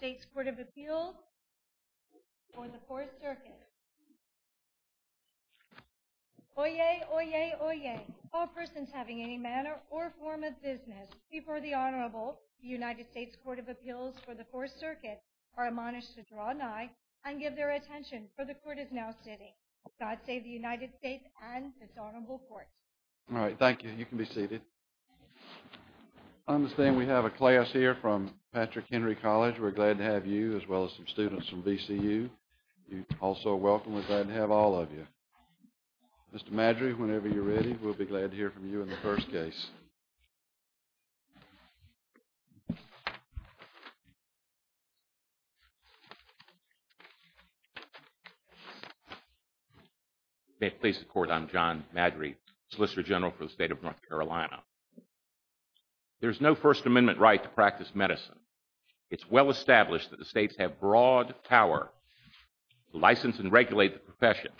United States Court of Appeals for the Fourth Circuit. Oyez! Oyez! Oyez! All persons having any manner or form of business before the Honorable United States Court of Appeals for the Fourth Circuit are admonished to draw an eye and give their attention, for the Court is now sitting. God save the United States and its Honorable Court. All right. Thank you. You can be seated. I understand we have a class here from Patrick Henry College. We're glad to have you as well as some students from VCU. You're also welcome. We're glad to have all of you. Mr. Madry, whenever you're ready, we'll be glad to hear from you in the first case. May it please the Court, I'm John Madry, Solicitor General for the State of North Carolina. There's no First Amendment right to practice medicine. It's well established that the states have broad power to license and regulate the professions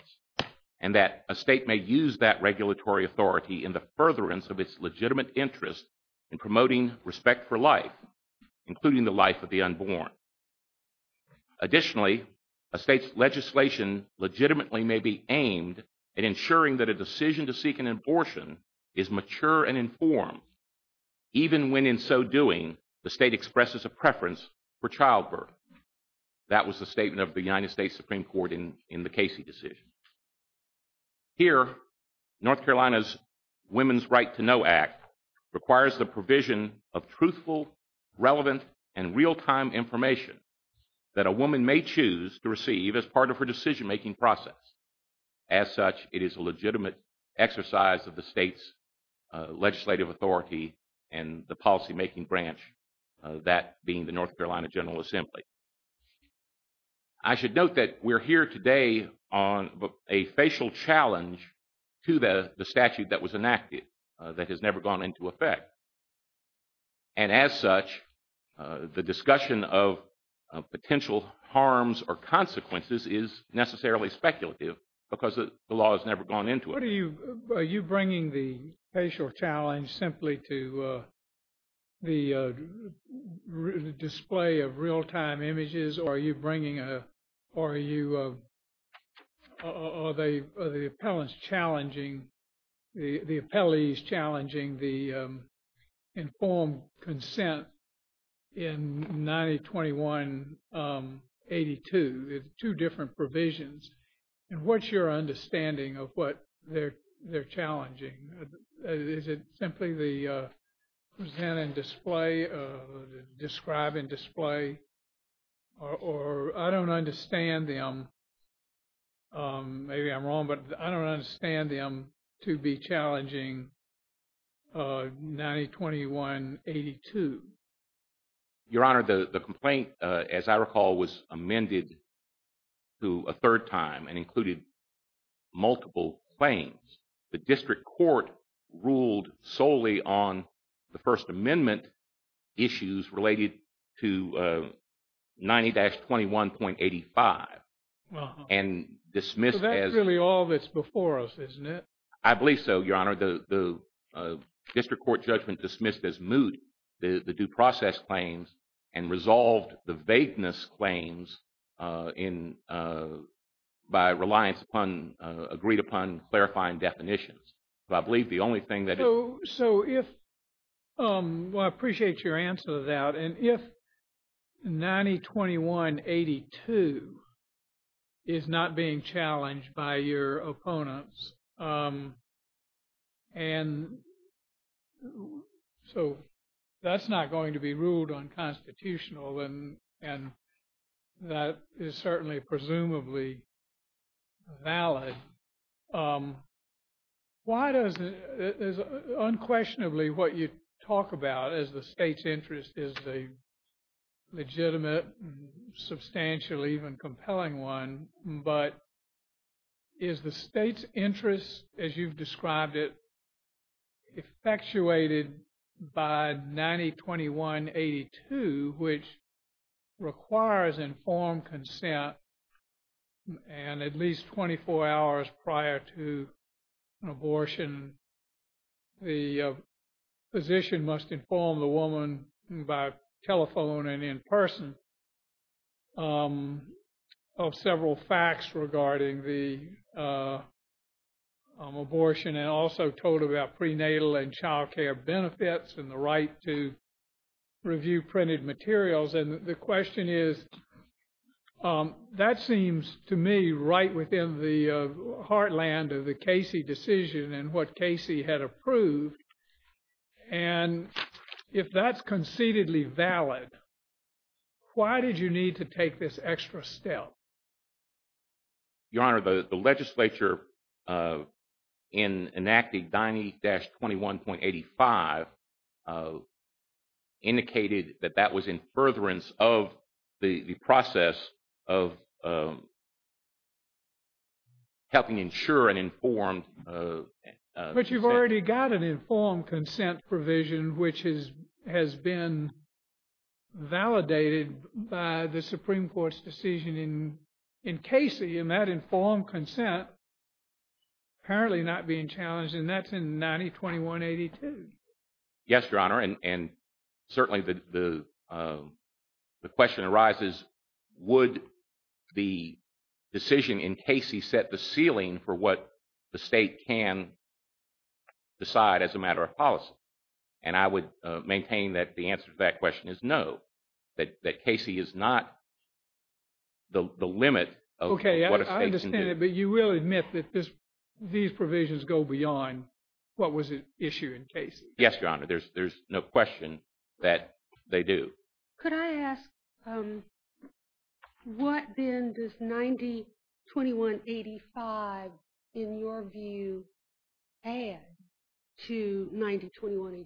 and that a state may use that regulatory authority in the furtherance of its legitimate interest in promoting respect for life, including the life of the unborn. Additionally, a state's legislation legitimately may be aimed at ensuring that a decision to seek an abortion is mature and informed, even when in so doing, the state expresses a preference for childbirth. That was the statement of the United States Supreme Court in the Casey decision. Here, North Carolina's Women's Right to Know Act requires the provision of truthful, relevant, and real-time information that a woman may choose to receive as part of her decision-making process. As such, it is a legitimate exercise of the state's legislative authority and the policy-making branch, that being the North Carolina General Assembly. I should note that we're here today on a facial challenge to the statute that was enacted that has never gone into effect. And as such, the discussion of potential harms or consequences is necessarily speculative, because the law has never gone into it. Are you bringing the facial challenge simply to the display of real-time images, or are you the appellees challenging the informed consent in 1921-82? There's two different provisions. And what's your understanding of what they're challenging? Is it simply the present and display, the describe and display? Or I don't understand them. Maybe I'm wrong, but I don't understand them to be challenging 1921-82. Your Honor, the complaint, as I recall, was amended to a third time and included multiple claims. The district court ruled solely on the First Amendment issues related to 90-21.85. So that's really all that's before us, isn't it? I believe so, Your Honor. The district court judgment dismissed as moot the due process claims and resolved the vagueness claims by reliance upon agreed-upon clarifying definitions. So I believe the only thing that... I appreciate your answer to that. And if 90-21-82 is not being challenged by your opponents, and so that's not going to be ruled unconstitutional and that is certainly presumably valid. Unquestionably, what you talk about is the state's interest is a legitimate and substantial, even compelling one, but is the state's interest, as you've described it, effectuated by 90-21-82, which requires informed consent and at least 24 hours prior to an abortion the physician must inform the woman by telephone and in person of several facts regarding the abortion and also told about prenatal and child care benefits and the right to review printed materials. And the question is, that seems to me right within the heartland of the Casey decision and what Casey had approved. And if that's concededly valid, why did you need to take this extra step? Your Honor, the legislature in enacting 90-21-85 indicated that that was in furtherance of the process of helping ensure an informed But you've already got an informed consent provision which has been validated by the Supreme Court's decision in Casey and that informed consent apparently not being challenged and that's in 90-21-82. Yes, Your Honor, and certainly the question arises would the decision in Casey set the ceiling for what the state can decide as a matter of policy? And I would maintain that the answer to that question is no, that Casey is not the limit of what a state can do. Okay, I understand it, but you will admit that these provisions go beyond what was issued in Casey. Yes, Your Honor, there's no question that they do. Could I ask what then does 90-21-85 in your view add to 90-21-82?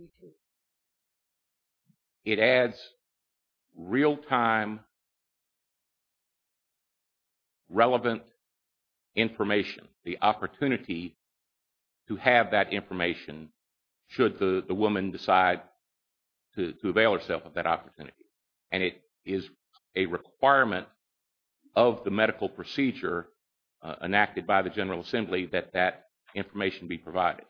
It adds real-time relevant information, the opportunity to have that information should the woman decide to avail herself of that opportunity and it is a requirement of the medical procedure enacted by the General Assembly that that information be provided.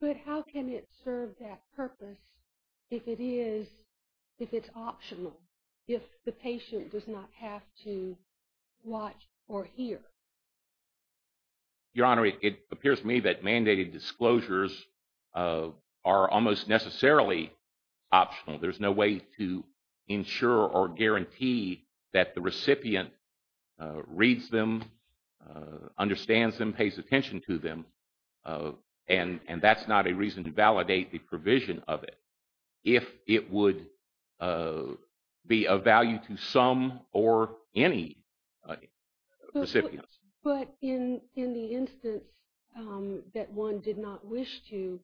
But how can it serve that purpose if it is optional, if the patient does not have to watch or hear? Your Honor, it appears to me that mandated disclosures are almost necessarily optional. There's no way to ensure or guarantee that the recipient reads them, understands them, pays attention to them, and that's not a reason to validate the provision of it if it would be of value to some or any recipients. But in the instance that one did not wish to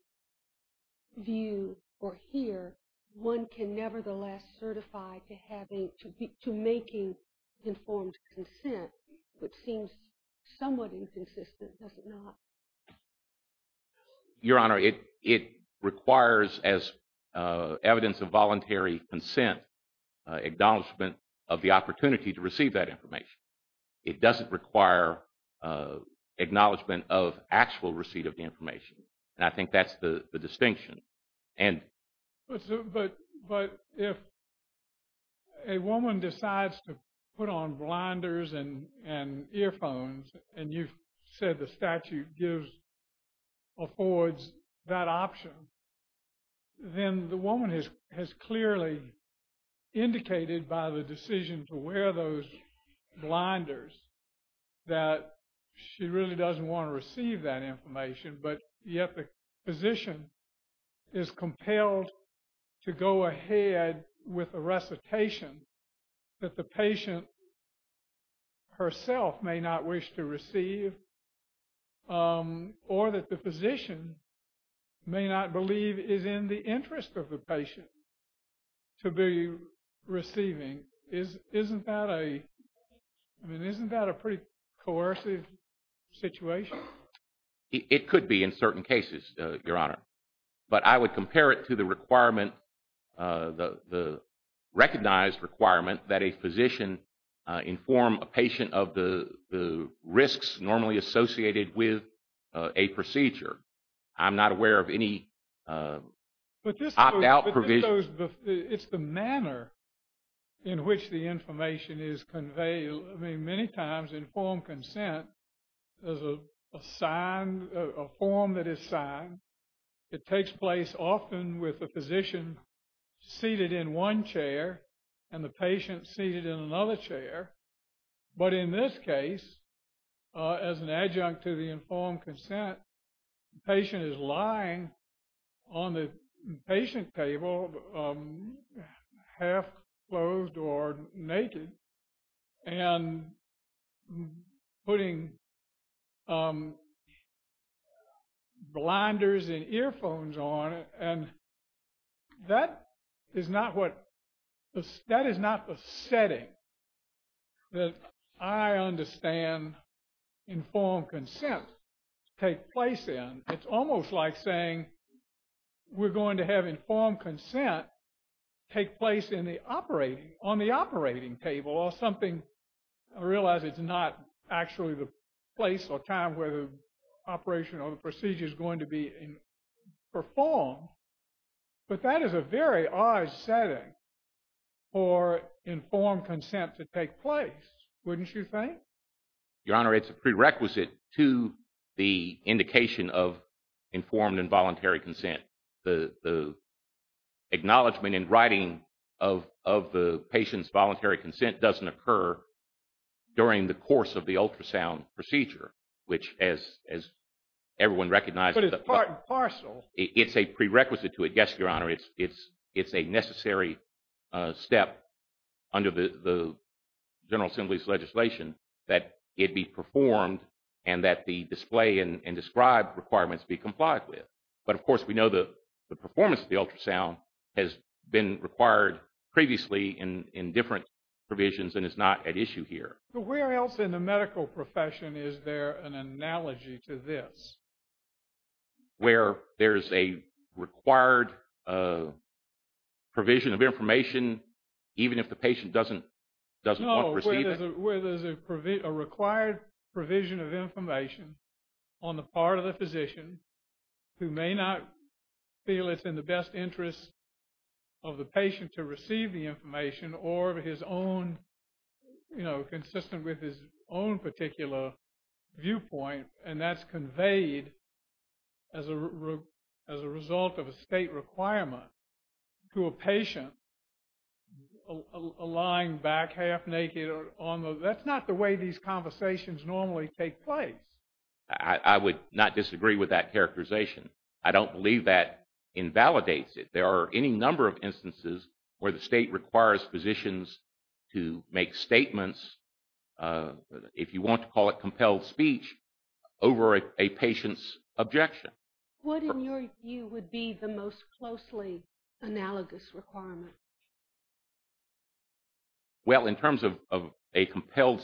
view or hear, one can nevertheless certify to having to making informed consent, which seems somewhat inconsistent, does it not? Your Honor, it requires, as evidence of voluntary consent, acknowledgement of the opportunity to receive that information. It doesn't require acknowledgement of actual receipt of the information, and I think that's the distinction. But if a woman decides to put on blinders and earphones, and you've said the statute gives, affords that option, then the woman has clearly indicated by the decision to wear those blinders that she really doesn't want to receive that information, but yet the physician is compelled to go ahead with a recitation that the patient herself may not wish to receive, or that the physician may not believe is in the interest of the patient to be receiving, isn't that a pretty coercive situation? It could be in certain cases, Your Honor. But I would compare it to the requirement, the recognized requirement that a physician inform a patient of the risks normally associated with a procedure. I'm not aware of any opt-out provision. But it's the manner in which the information is conveyed. I mean, many times informed consent, there's a sign, a form that is signed. It takes place often with the physician seated in one chair and the patient seated in another chair. But in this case, as an adjunct to the informed consent, the patient is lying on the patient table half-clothed or naked and putting blinders and earphones on. And that is not what, that is not the setting that I understand informed consent take place in. It's almost like saying we're going to have informed consent take place in the operating, on the operating table or something. I realize it's not actually the place or time where the operation or the procedure is going to be performed. But that is a very odd setting for informed consent to take place, wouldn't you think? Your Honor, it's a prerequisite to the indication of informed and voluntary consent. The acknowledgement in writing of the patient's voluntary consent doesn't occur during the course of the ultrasound procedure, which as everyone recognizes. But it's part and parcel. It's a prerequisite to it, yes, Your Honor. It's a necessary step under the General Assembly's legislation that it be performed and that the display and described requirements be complied with. But of course we know the performance of the ultrasound has been required previously in different provisions and is not at issue here. But where else in the medical profession is there an analogy to this? Where there's a required provision of information even if the patient doesn't want to receive it? No, where there's a required provision of information on the part of the physician who may not feel it's in the best interest of the patient to receive the information or his own, you know, consistent with his own particular viewpoint, and that's conveyed as a result of a state requirement to a patient lying back half naked. That's not the way these conversations normally take place. I would not disagree with that characterization. I don't believe that invalidates it. There are any number of instances where the state requires physicians to make statements if you want to call it compelled speech, over a patient's objection. What in your view would be the most closely analogous requirement? Well, in terms of a compelled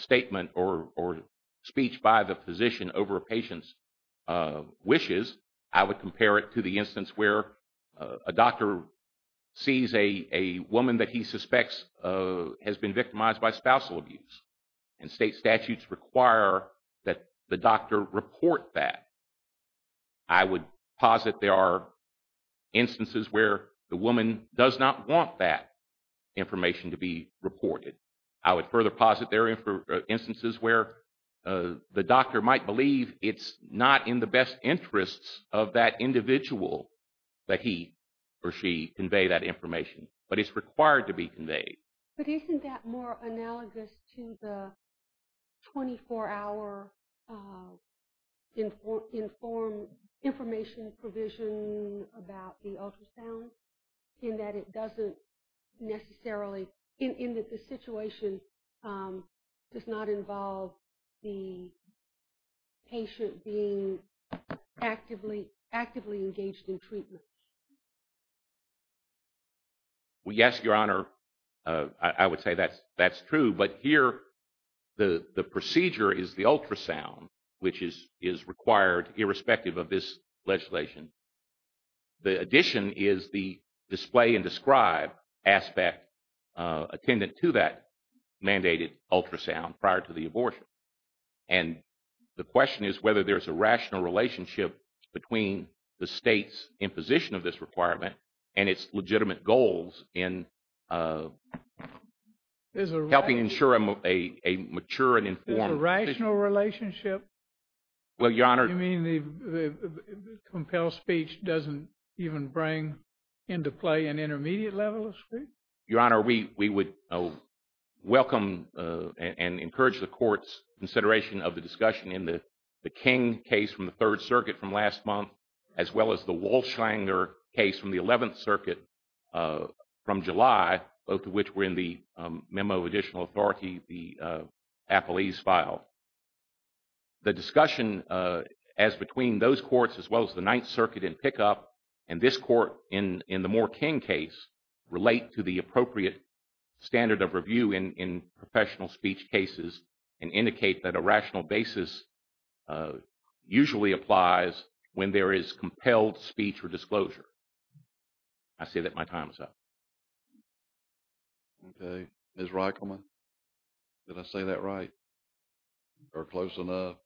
statement or speech by the physician over a patient's objections, I would compare it to the instance where a doctor sees a woman that he suspects has been victimized by spousal abuse, and state statutes require that the doctor report that. I would posit there are instances where the woman does not want that information to be reported. I would further posit there are instances where the doctor might believe it's not in the best interests of that individual that he or she convey that information, but it's required to be conveyed. But isn't that more analogous to the 24-hour information provision about the ultrasound, in that it doesn't necessarily in that the situation does not involve the patient being actively engaged in treatment? Well, yes, Your Honor, I would say that's true, but here the procedure is the ultrasound, which is required irrespective of this legislation. The addition is the display and describe aspect attendant to that mandated ultrasound prior to the abortion. And the question is whether there's a rational relationship between the state's imposition of this requirement and its legitimate goals in helping ensure a mature and informed position. Is there a rational relationship? You mean the compelled speech doesn't even bring into play an intermediate level of speech? Your Honor, we would welcome and encourage the Court's consideration of the discussion in the King case from the 3rd Circuit from last month, as well as the Walsh-Langer case from the 11th Circuit from July, both of which were in the memo of additional authority the appellees filed. The discussion as between those courts as well as the 9th Circuit in pickup and this court in the Moore-King case relate to the appropriate standard of review in professional speech cases and indicate that a rational basis usually applies when there is compelled speech or disclosure. I say that my time is up. Okay. Ms. Reichelman, did I say that right or close enough?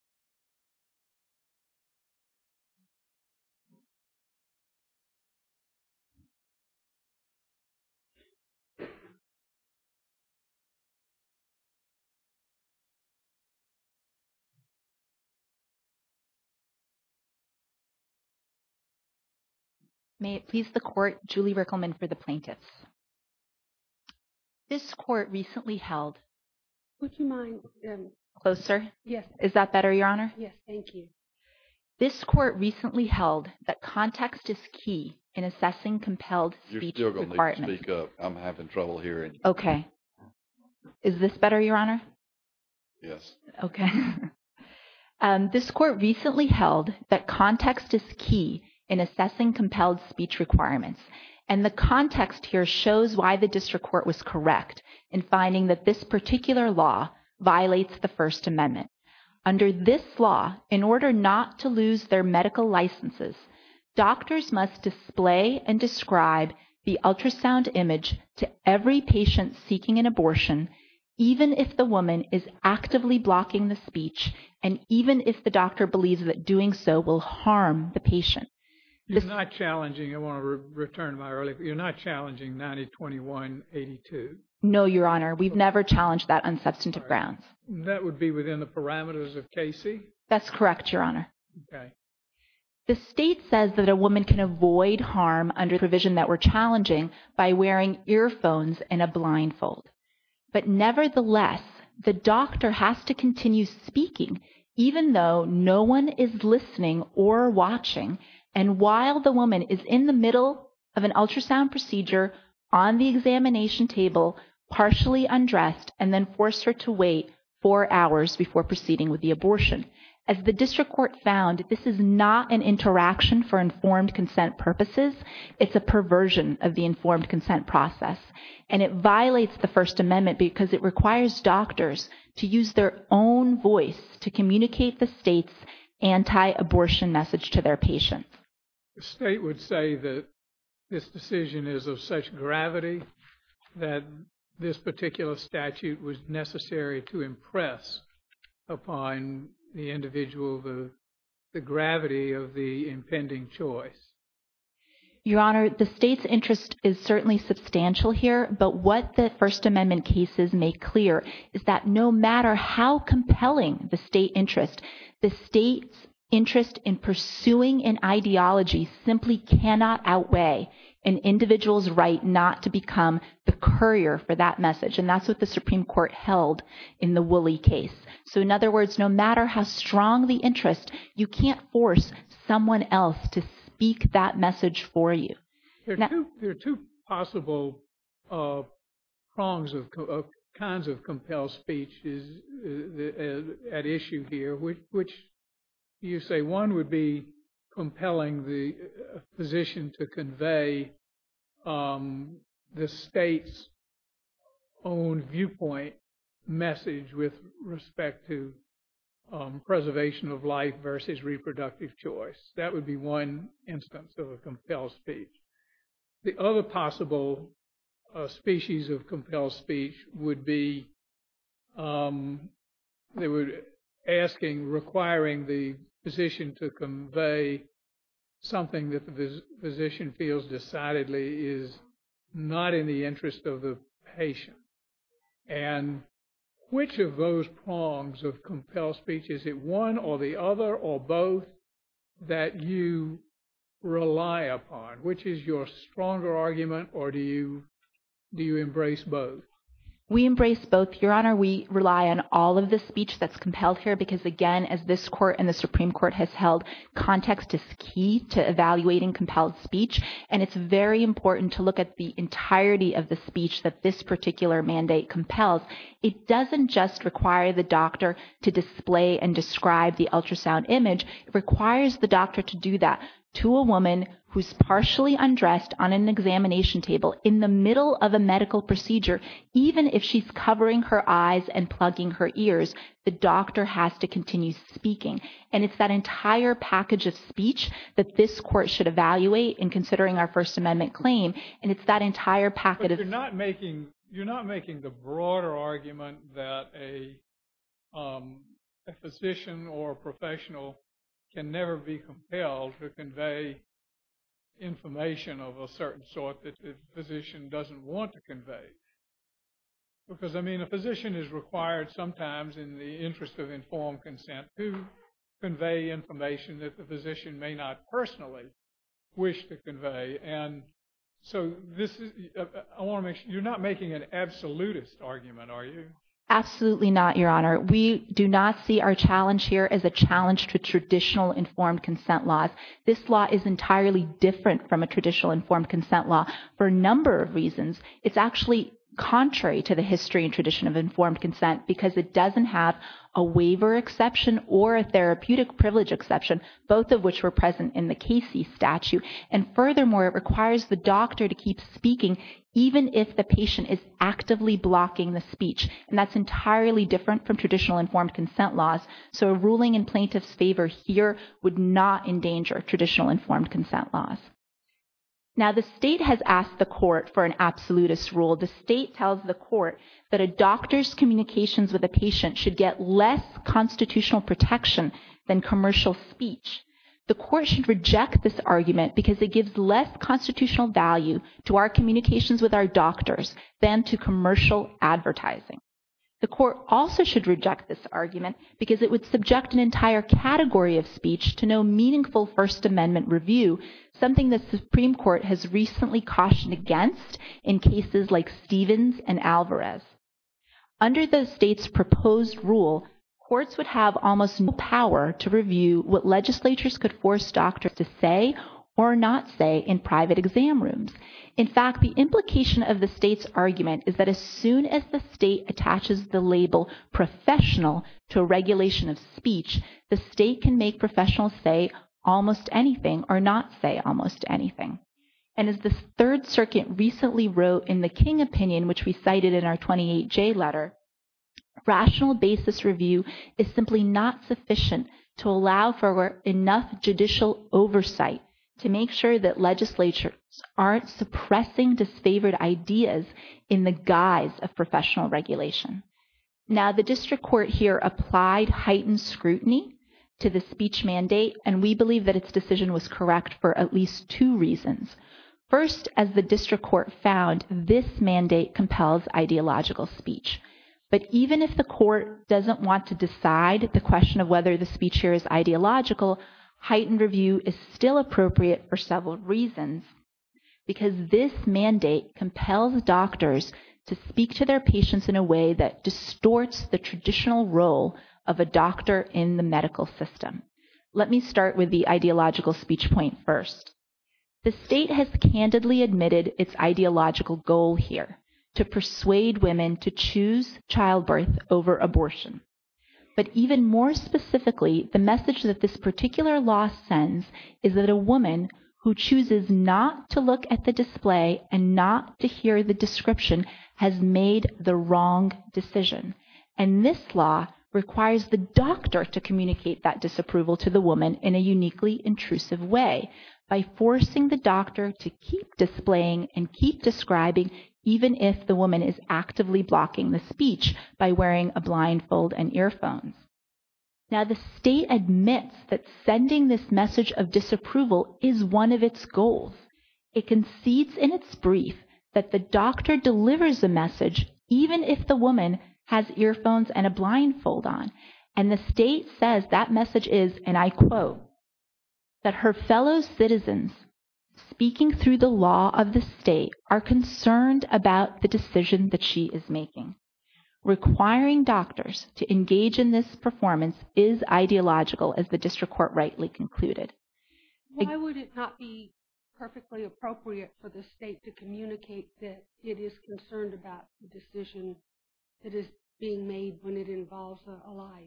May it please the Court, Julie Reichelman for the Plaintiffs. This Court recently held Would you mind? Closer? Yes. Is that better, Your Honor? Yes, thank you. This Court recently held that context is key in assessing compelled speech requirements. Thank you. Okay. Is this better, Your Honor? Yes. Okay. This Court recently held that context is key in assessing compelled speech requirements and the context here shows why the District Court was correct in finding that this particular law violates the First Amendment. Under this law, in order not to lose their medical licenses, doctors must display and image to every patient seeking an abortion, even if the woman is actively blocking the speech and even if the doctor believes that doing so will harm the patient. You're not challenging I want to return to my earlier. You're not challenging 90-21-82? No, Your Honor. We've never challenged that on substantive grounds. That would be within the parameters of KC? That's correct, Your Honor. Okay. The State says that a woman can avoid harm under the provision that we're challenging by wearing earphones and a blindfold. But nevertheless, the doctor has to continue speaking even though no one is listening or watching and while the woman is in the middle of an ultrasound procedure, on the examination table, partially undressed and then forced her to wait four hours before proceeding with the abortion. As the District Court found, this is not an interaction for consent. It is a perversion of the informed consent process. And it violates the First Amendment because it requires doctors to use their own voice to communicate the State's anti-abortion message to their patients. The State would say that this decision is of such gravity that this particular statute was necessary to impress upon the individual the gravity of the impending choice. Your Honor, the State's interest is certainly substantial here, but what the First Amendment cases make clear is that no matter how compelling the State interest, the State's interest in pursuing an ideology simply cannot outweigh an individual's right not to become the courier for that message. And that's what the Supreme Court held in the Woolley case. So in other words, no matter how strong the interest, you can't force someone else to speak that message for you. There are two possible prongs of kinds of compelled speech at issue here, which you say one would be compelling the position to convey the State's own viewpoint message with respect to preservation of life versus reproductive choice. That would be one instance of a compelled speech. The other possible species of compelled speech would be requiring the physician to convey something that the physician feels decidedly is not in the interest of the patient. And which of those prongs of compelled speech, is it one or the other or both that you rely upon? Which is your stronger argument, or do you embrace both? We embrace both, Your Honor. We rely on all of the speech that's compelled here because, again, as this Court and the Supreme Court has held, context is key to evaluating compelled speech, and it's very important to look at the entirety of the speech that this particular mandate compels. It doesn't just require the doctor to display and describe the ultrasound image. It requires the doctor to do that to a woman who's partially undressed on an examination table in the middle of a medical procedure, even if she's covering her eyes and plugging her ears. The doctor has to continue speaking, and it's that entire package of speech that this Court should evaluate in considering our First Amendment claim, and it's that entire packet of speech. But you're not making the broader argument that a physician or professional can never be compelled to convey information of a certain sort that the physician doesn't want to convey. Because, I mean, a physician is required sometimes in the interest of informed consent to convey information that the physician may not personally wish to convey, and so this is, I want to make sure, you're not making an absolutist argument, are you? Absolutely not, Your Honor. We do not see our challenge here as a challenge to traditional informed consent laws. This law is entirely different from a traditional informed consent law for a number of reasons. It's actually contrary to the history and tradition of informed consent because it doesn't have a waiver exception or statute, and furthermore, it requires the doctor to keep speaking even if the patient is actively blocking the speech, and that's entirely different from traditional informed consent laws, so a ruling in plaintiff's favor here would not endanger traditional informed consent laws. Now, the State has asked the Court for an absolutist rule. The State tells the Court that a doctor's communications with a patient should get less constitutional protection than commercial speech. The Court should reject this argument because it gives less constitutional value to our communications with our doctors than to commercial advertising. The Court also should reject this argument because it would subject an entire category of speech to no meaningful First Amendment review, something the Supreme Court has recently cautioned against in cases like Stevens and Alvarez. Under the State's proposed rule, courts would have almost no power to review what legislatures could force doctors to say or not say in private exam rooms. In fact, the implication of the State's argument is that as soon as the State attaches the label professional to a regulation of speech, the State can make professionals say almost anything or not say almost anything. And as the Third Circuit recently wrote in the King opinion, which we cited in our 28J letter, rational basis review is simply not sufficient to allow for enough judicial oversight to make sure that legislatures aren't suppressing disfavored ideas in the guise of professional regulation. Now the District Court here applied heightened scrutiny to the speech mandate, and we believe that its decision was correct for at least two reasons. First, as the District Court found, this mandate compels ideological speech. But even if the Court doesn't want to decide the question of whether the speech here is ideological, heightened review is still appropriate for several reasons, because this mandate compels doctors to speak to their patients in a way that distorts the traditional role of a doctor in the medical system. Let me start with the ideological speech point first. The State has candidly admitted its ideological goal here to persuade women to choose childbirth over abortion. But even more specifically, the message that this particular law sends is that a woman who chooses not to look at the display and not to hear the description has made the wrong decision. And this law requires the doctor to communicate that disapproval to the woman in a uniquely intrusive way by forcing the doctor to keep displaying and keep describing even if the woman is actively blocking the speech by wearing a blindfold and earphones. Now, the State admits that sending this message of disapproval is one of its goals. It concedes in its brief that the doctor delivers the message even if the woman has earphones and a blindfold on. And the State says that message is, and I quote, that her fellow citizens speaking through the law of the State are concerned about the decision that she is making. Requiring doctors to engage in this performance is ideological as the District Court rightly concluded. Why would it not be perfectly appropriate for the State to communicate that it is concerned about the decision that is being made when it involves a lie?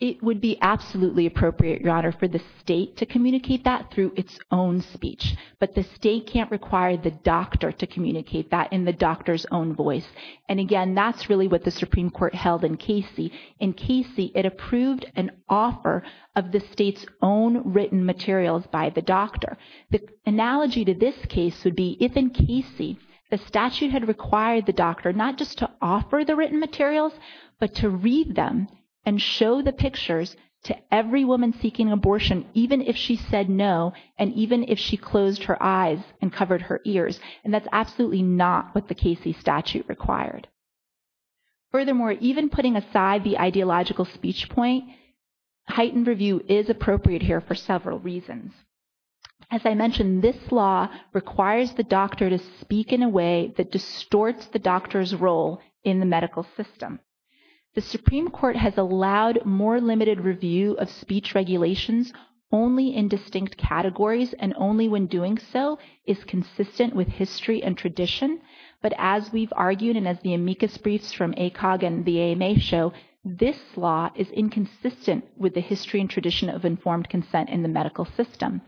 It would be absolutely appropriate, Your Honor, for the State to communicate that through its own speech. But the State can't require the doctor to communicate that in the doctor's own voice. And again, that's really what the Supreme Court held in Casey. In Casey, it approved an offer of the State's own written materials by the doctor. The analogy to this case would be if in Casey, the statute had required the doctor not just to offer the written materials, but to read them and show the pictures to every woman seeking abortion even if she said no and even if she closed her eyes and covered her ears. And that's absolutely not what the Casey statute required. Furthermore, even putting aside the ideological speech point, heightened review is appropriate here for several reasons. As I mentioned, this law requires the doctor to speak in a way that distorts the doctor's role in the medical system. The Supreme Court has allowed more limited review of speech regulations only in distinct categories and only when doing so is consistent with history and tradition. But as we've argued and as the amicus briefs from ACOG and the AMA show, this law is inconsistent with the history and tradition of informed consent in the medical system.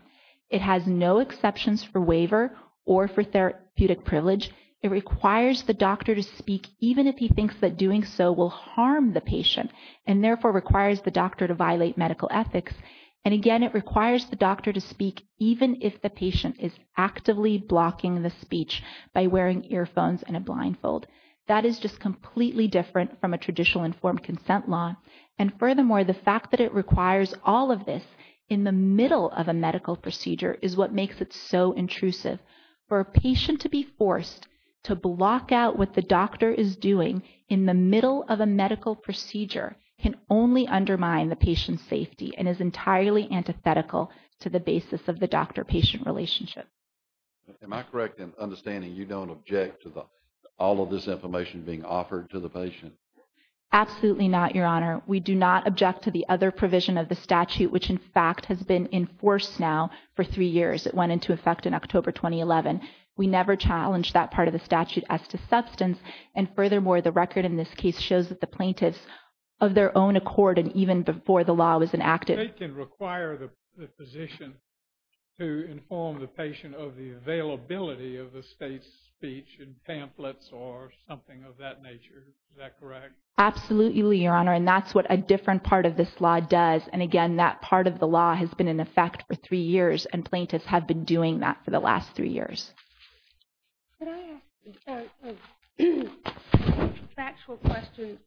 It has no exceptions for waiver or for therapeutic privilege. It requires the doctor to speak even if he thinks that doing so will harm the patient. It requires the doctor to violate medical ethics. And again, it requires the doctor to speak even if the patient is actively blocking the speech by wearing earphones and a blindfold. That is just completely different from a traditional informed consent law. And furthermore, the fact that it requires all of this in the middle of a medical procedure is what makes it so intrusive. For a patient to be forced to block out what the doctor is doing in the middle of a medical procedure can only undermine the patient's safety and is entirely antithetical to the basis of the doctor-patient relationship. Am I correct in understanding you don't object to all of this information being offered to the patient? Absolutely not, Your Honor. We do not object to the other provision of the statute, which in fact has been enforced now for three years. It went into effect in October 2011. We never challenged that part of the statute as to substance. And furthermore, the record in this case shows that the plaintiffs of their own accord and even before the law was enacted. They can require the physician to inform the patient of the availability of the state's speech in pamphlets or something of that nature. Is that correct? Absolutely, Your Honor. And that's what a different part of this law does. And again, that part of the law has been in effect for three years. And plaintiffs have been doing that for the last three years. Could I ask a factual question?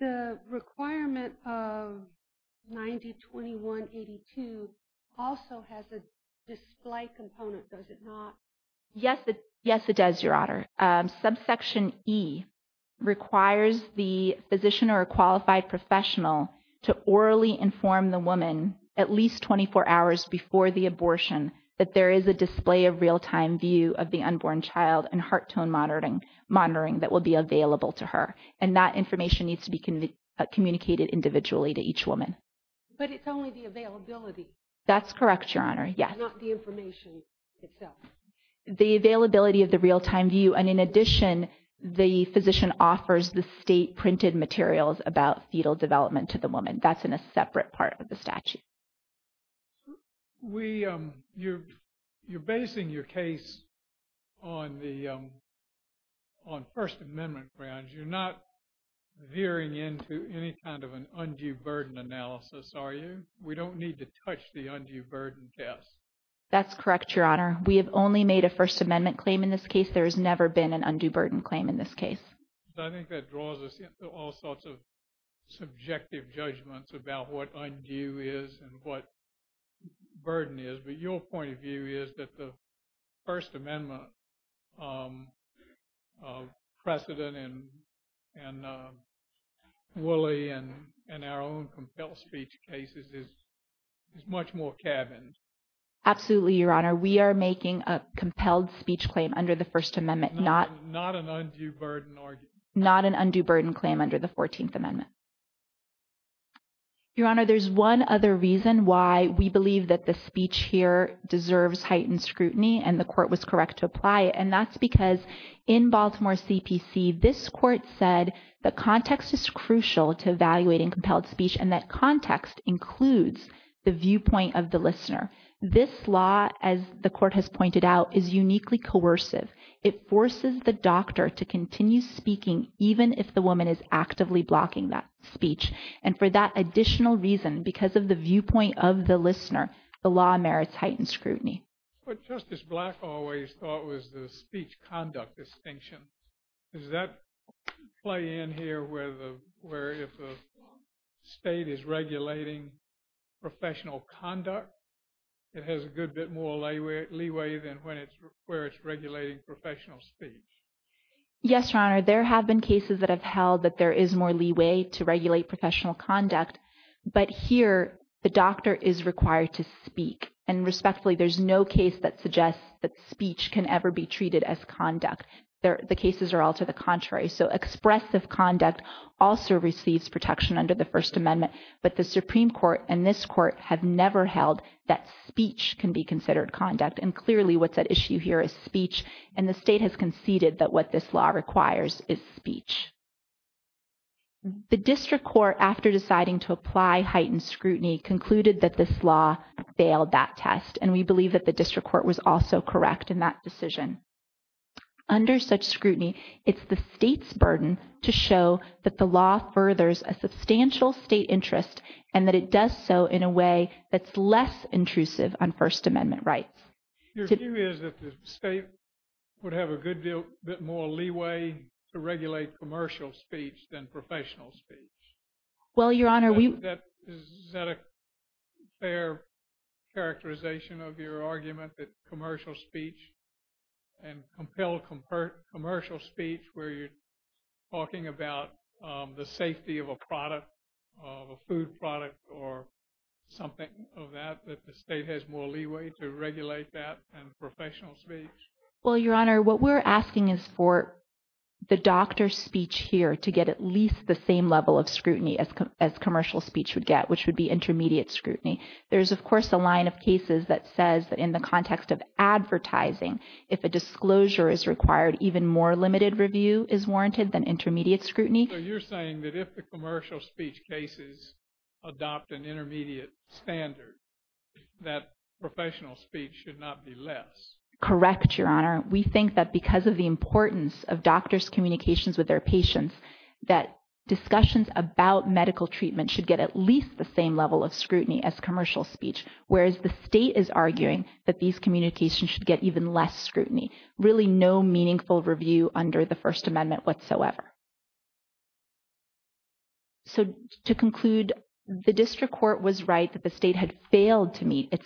The requirement of 90-21-82 also has a display component, does it not? Yes, it does, Your Honor. Subsection E requires the physician or a qualified professional to orally inform the woman at least 24 hours before the abortion that there is a display of real-time view of the unborn child and heart tone monitoring that will be available to her. And that information needs to be communicated individually to each woman. But it's only the availability. That's correct, Your Honor. Not the information itself. The availability of the real-time view and in addition the physician offers the state-printed materials about fetal development to the woman. That's in a separate part of the statute. You're basing your case on First Amendment grounds. You're not veering into any kind of an undue burden analysis, are you? We don't need to touch the undue burden test. That's correct, Your Honor. We have only made a First Amendment claim in this case. There has never been an undue burden claim in this case. I think that draws us into all sorts of subjective judgments about what undue is and what burden is. But your point of view is that the First Amendment precedent in Wooley and our own compelled speech cases is much more cabined. Absolutely, Your Honor. We are making a compelled speech claim under the First Amendment, not an undue burden claim under the First Amendment. Your Honor, there's one other reason why we believe that the speech here deserves heightened scrutiny and the court was correct to apply it. And that's because in Baltimore CPC, this court said the context is crucial to evaluating compelled speech and that context includes the viewpoint of the listener. This law, as the court has pointed out, is uniquely coercive. It forces the doctor to continue speaking even if the woman is speaking. And for that additional reason, because of the viewpoint of the listener, the law merits heightened scrutiny. But Justice Black always thought it was the speech conduct distinction. Does that play in here where if the state is regulating professional conduct, it has a good bit more leeway than where it's regulating professional speech? Yes, Your Honor. There have been cases that have held that there is more leeway to regulate professional conduct. But here the doctor is required to speak. And respectfully, there's no case that suggests that speech can ever be treated as conduct. The cases are all to the contrary. So expressive conduct also receives protection under the First Amendment. But the Supreme Court and this court have never held that speech can be considered conduct. And clearly what's at issue here is speech. And the state has conceded that what this law requires is speech. The district court, after deciding to apply heightened scrutiny, concluded that this law failed that test. And we believe that the district court was also correct in that decision. Under such scrutiny, it's the state's burden to show that the law furthers a substantial state interest and that it does so in a way that's less intrusive on First Amendment rights. Your view is that the state would have a good deal more leeway to regulate commercial speech than professional speech? Well, Your Honor, we... Is that a fair characterization of your argument that commercial speech and compelled commercial speech where you're talking about the safety of a product, of a food product or something of that, that the state has more leeway to regulate that than professional speech? Well, Your Honor, what we're asking is for the doctor's speech here to get at least the same level of scrutiny as commercial speech would get, which would be intermediate scrutiny. There's, of course, a line of cases that says that in the context of advertising, if a disclosure is required, even more limited review is warranted than intermediate scrutiny. So you're saying that if the commercial speech cases adopt an intermediate standard, that professional speech should not be less? Correct, Your Honor. We think that because of the importance of doctors' communications with their patients, that discussions about medical treatment should get at least the same level of scrutiny as commercial speech, whereas the state is arguing that these communications should get even less scrutiny. Really no meaningful review under the First Amendment whatsoever. So to conclude, the district court was right that the state had intermediate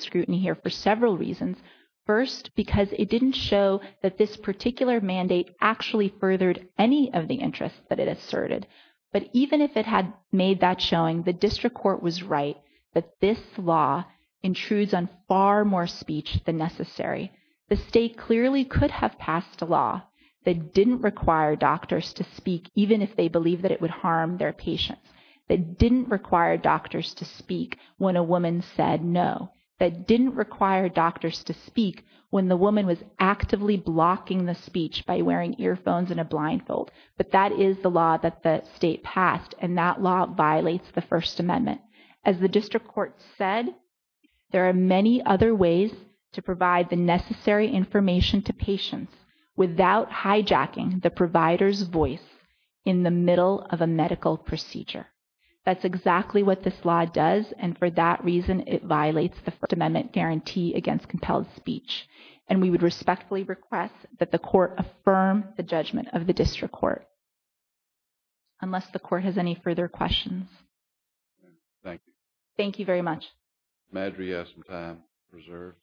scrutiny here for several reasons. First, because it didn't show that this particular mandate actually furthered any of the interests that it asserted. But even if it had made that showing, the district court was right that this law intrudes on far more speech than necessary. The state clearly could have passed a law that didn't require doctors to speak, even if they believed that it would harm their patients, that didn't require doctors to know, that didn't require doctors to speak when the woman was actively blocking the speech by wearing earphones and a blindfold. But that is the law that the state passed, and that law violates the First Amendment. As the district court said, there are many other ways to provide the necessary information to patients without hijacking the provider's voice in the middle of a medical procedure. That's exactly what this law does, and for that reason, it violates the First Amendment guarantee against compelled speech. And we would respectfully request that the court affirm the judgment of the district court, unless the court has any further questions. Thank you. Thank you very much. Ms. Madri has some time reserved.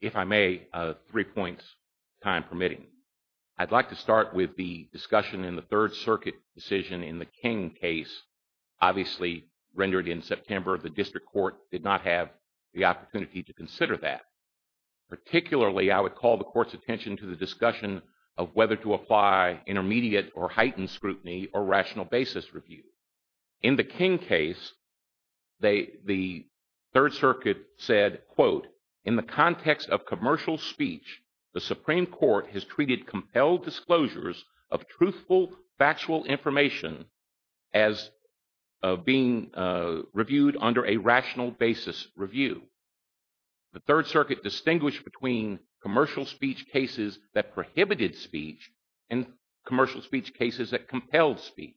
If I may, three points, time permitting. I'd like to start with the discussion in the Third Circuit decision in the King case. Obviously, rendered in September, the district court did not have the opportunity to consider that. Particularly, I would call the court's attention to the discussion of whether to apply intermediate or heightened scrutiny or rational basis review. In the King case, the Third Circuit said, quote, in the context of commercial speech, the Supreme Court has treated compelled disclosures of truthful, factual information as being reviewed under a rational basis review. The Third Circuit distinguished between commercial speech cases that prohibited speech and commercial speech cases that compelled speech.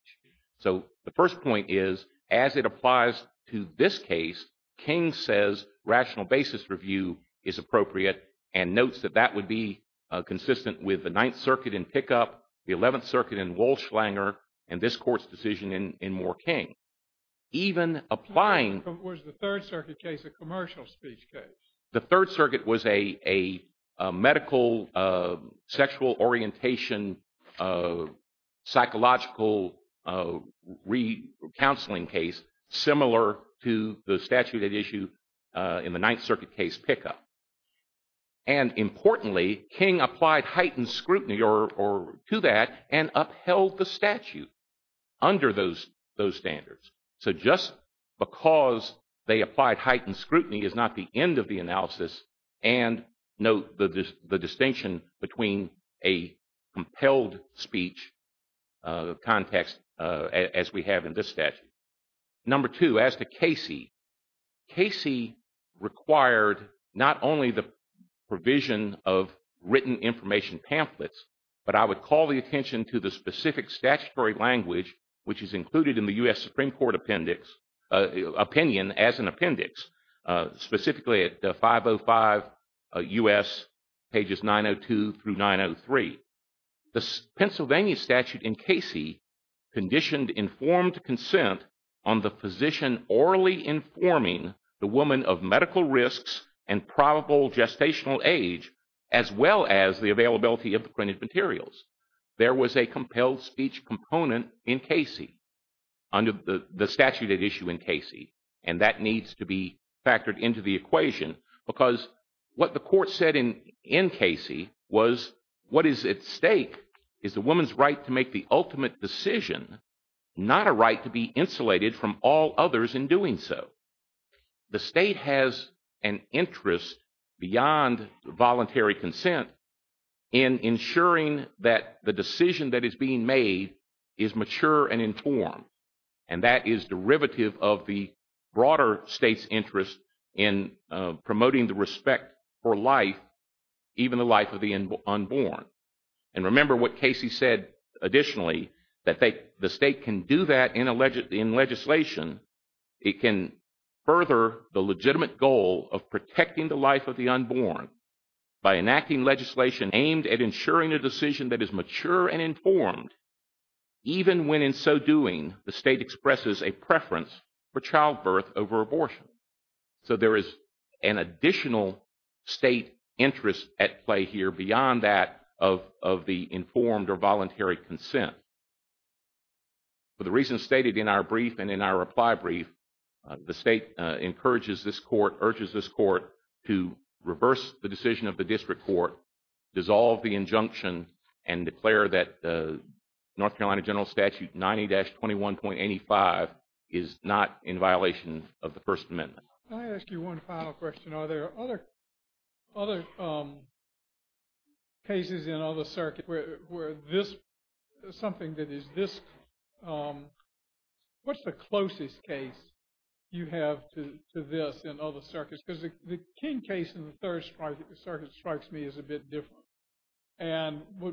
So the first point is, as it applies to this case, King says rational basis review is appropriate and notes that that would be consistent with the Ninth Circuit in Pickup, the Eleventh Circuit in Walsh-Langer, and this court's decision in Moore-King. Even applying... Was the Third Circuit case a commercial speech case? The Third Circuit was a medical, sexual orientation, psychological re-counseling case similar to the statute at issue in the Ninth Circuit case Pickup. And importantly, King applied heightened scrutiny to that and upheld the statute under those standards. So just because they applied heightened scrutiny is not the end of the analysis, and note the compelled speech context as we have in this statute. Number two, as to Casey, Casey required not only the provision of written information pamphlets, but I would call the attention to the specific statutory language which is included in the U.S. Supreme Court appendix, opinion as an appendix, specifically at 505 U.S. pages 902 through 903. The Pennsylvania statute in Casey conditioned informed consent on the physician orally informing the woman of medical risks and probable gestational age as well as the availability of the printed materials. There was a compelled speech component in Casey, under the statute at issue in Casey, and that needs to be factored into the equation because what the court said in Casey was what is at stake is the woman's right to make the ultimate decision not a right to be insulated from all others in doing so. The state has an interest beyond voluntary consent in ensuring that the decision that is being made is mature and informed and that is derivative of the broader state's interest in promoting the respect for life, even the life of the unborn. And remember what Casey said additionally, that the state can do that in legislation. It can further the legitimate goal of protecting the life of the unborn by enacting legislation aimed at ensuring a decision that is mature and informed even when in so doing the state expresses a preference for So there is an additional state interest at play here beyond that of the informed or voluntary consent. For the reasons stated in our brief and in our reply brief, the state encourages this court, urges this court to reverse the decision of the district court, dissolve the injunction, and declare that the North Carolina General Statute 90-21.85 is not in Let me ask you one final question. Are there other cases in other circuits where this something that is this what's the closest case you have to this in other circuits? Because the King case in the third circuit strikes me as a bit different. And what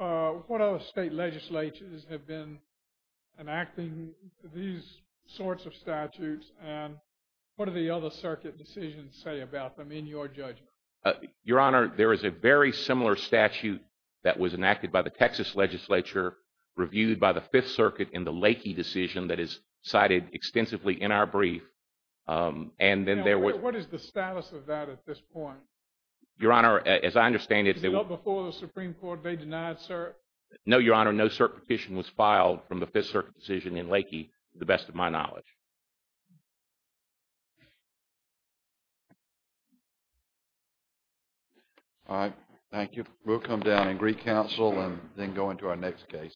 other state legislatures have been enacting these sorts of statutes and what are the other circuit decisions say about them in your judgment? Your Honor, there is a very similar statute that was enacted by the Texas legislature reviewed by the Fifth Circuit in the Lakey decision that is cited extensively in our brief and then there was What is the status of that at this point? Your Honor, as I understand it Before the Supreme Court, they denied cert? No, Your Honor, no cert petition was reviewed in the Lakey decision. So, I don't think that that is the best of my knowledge. All right, thank you. We'll come down and recouncil and then go into our next case.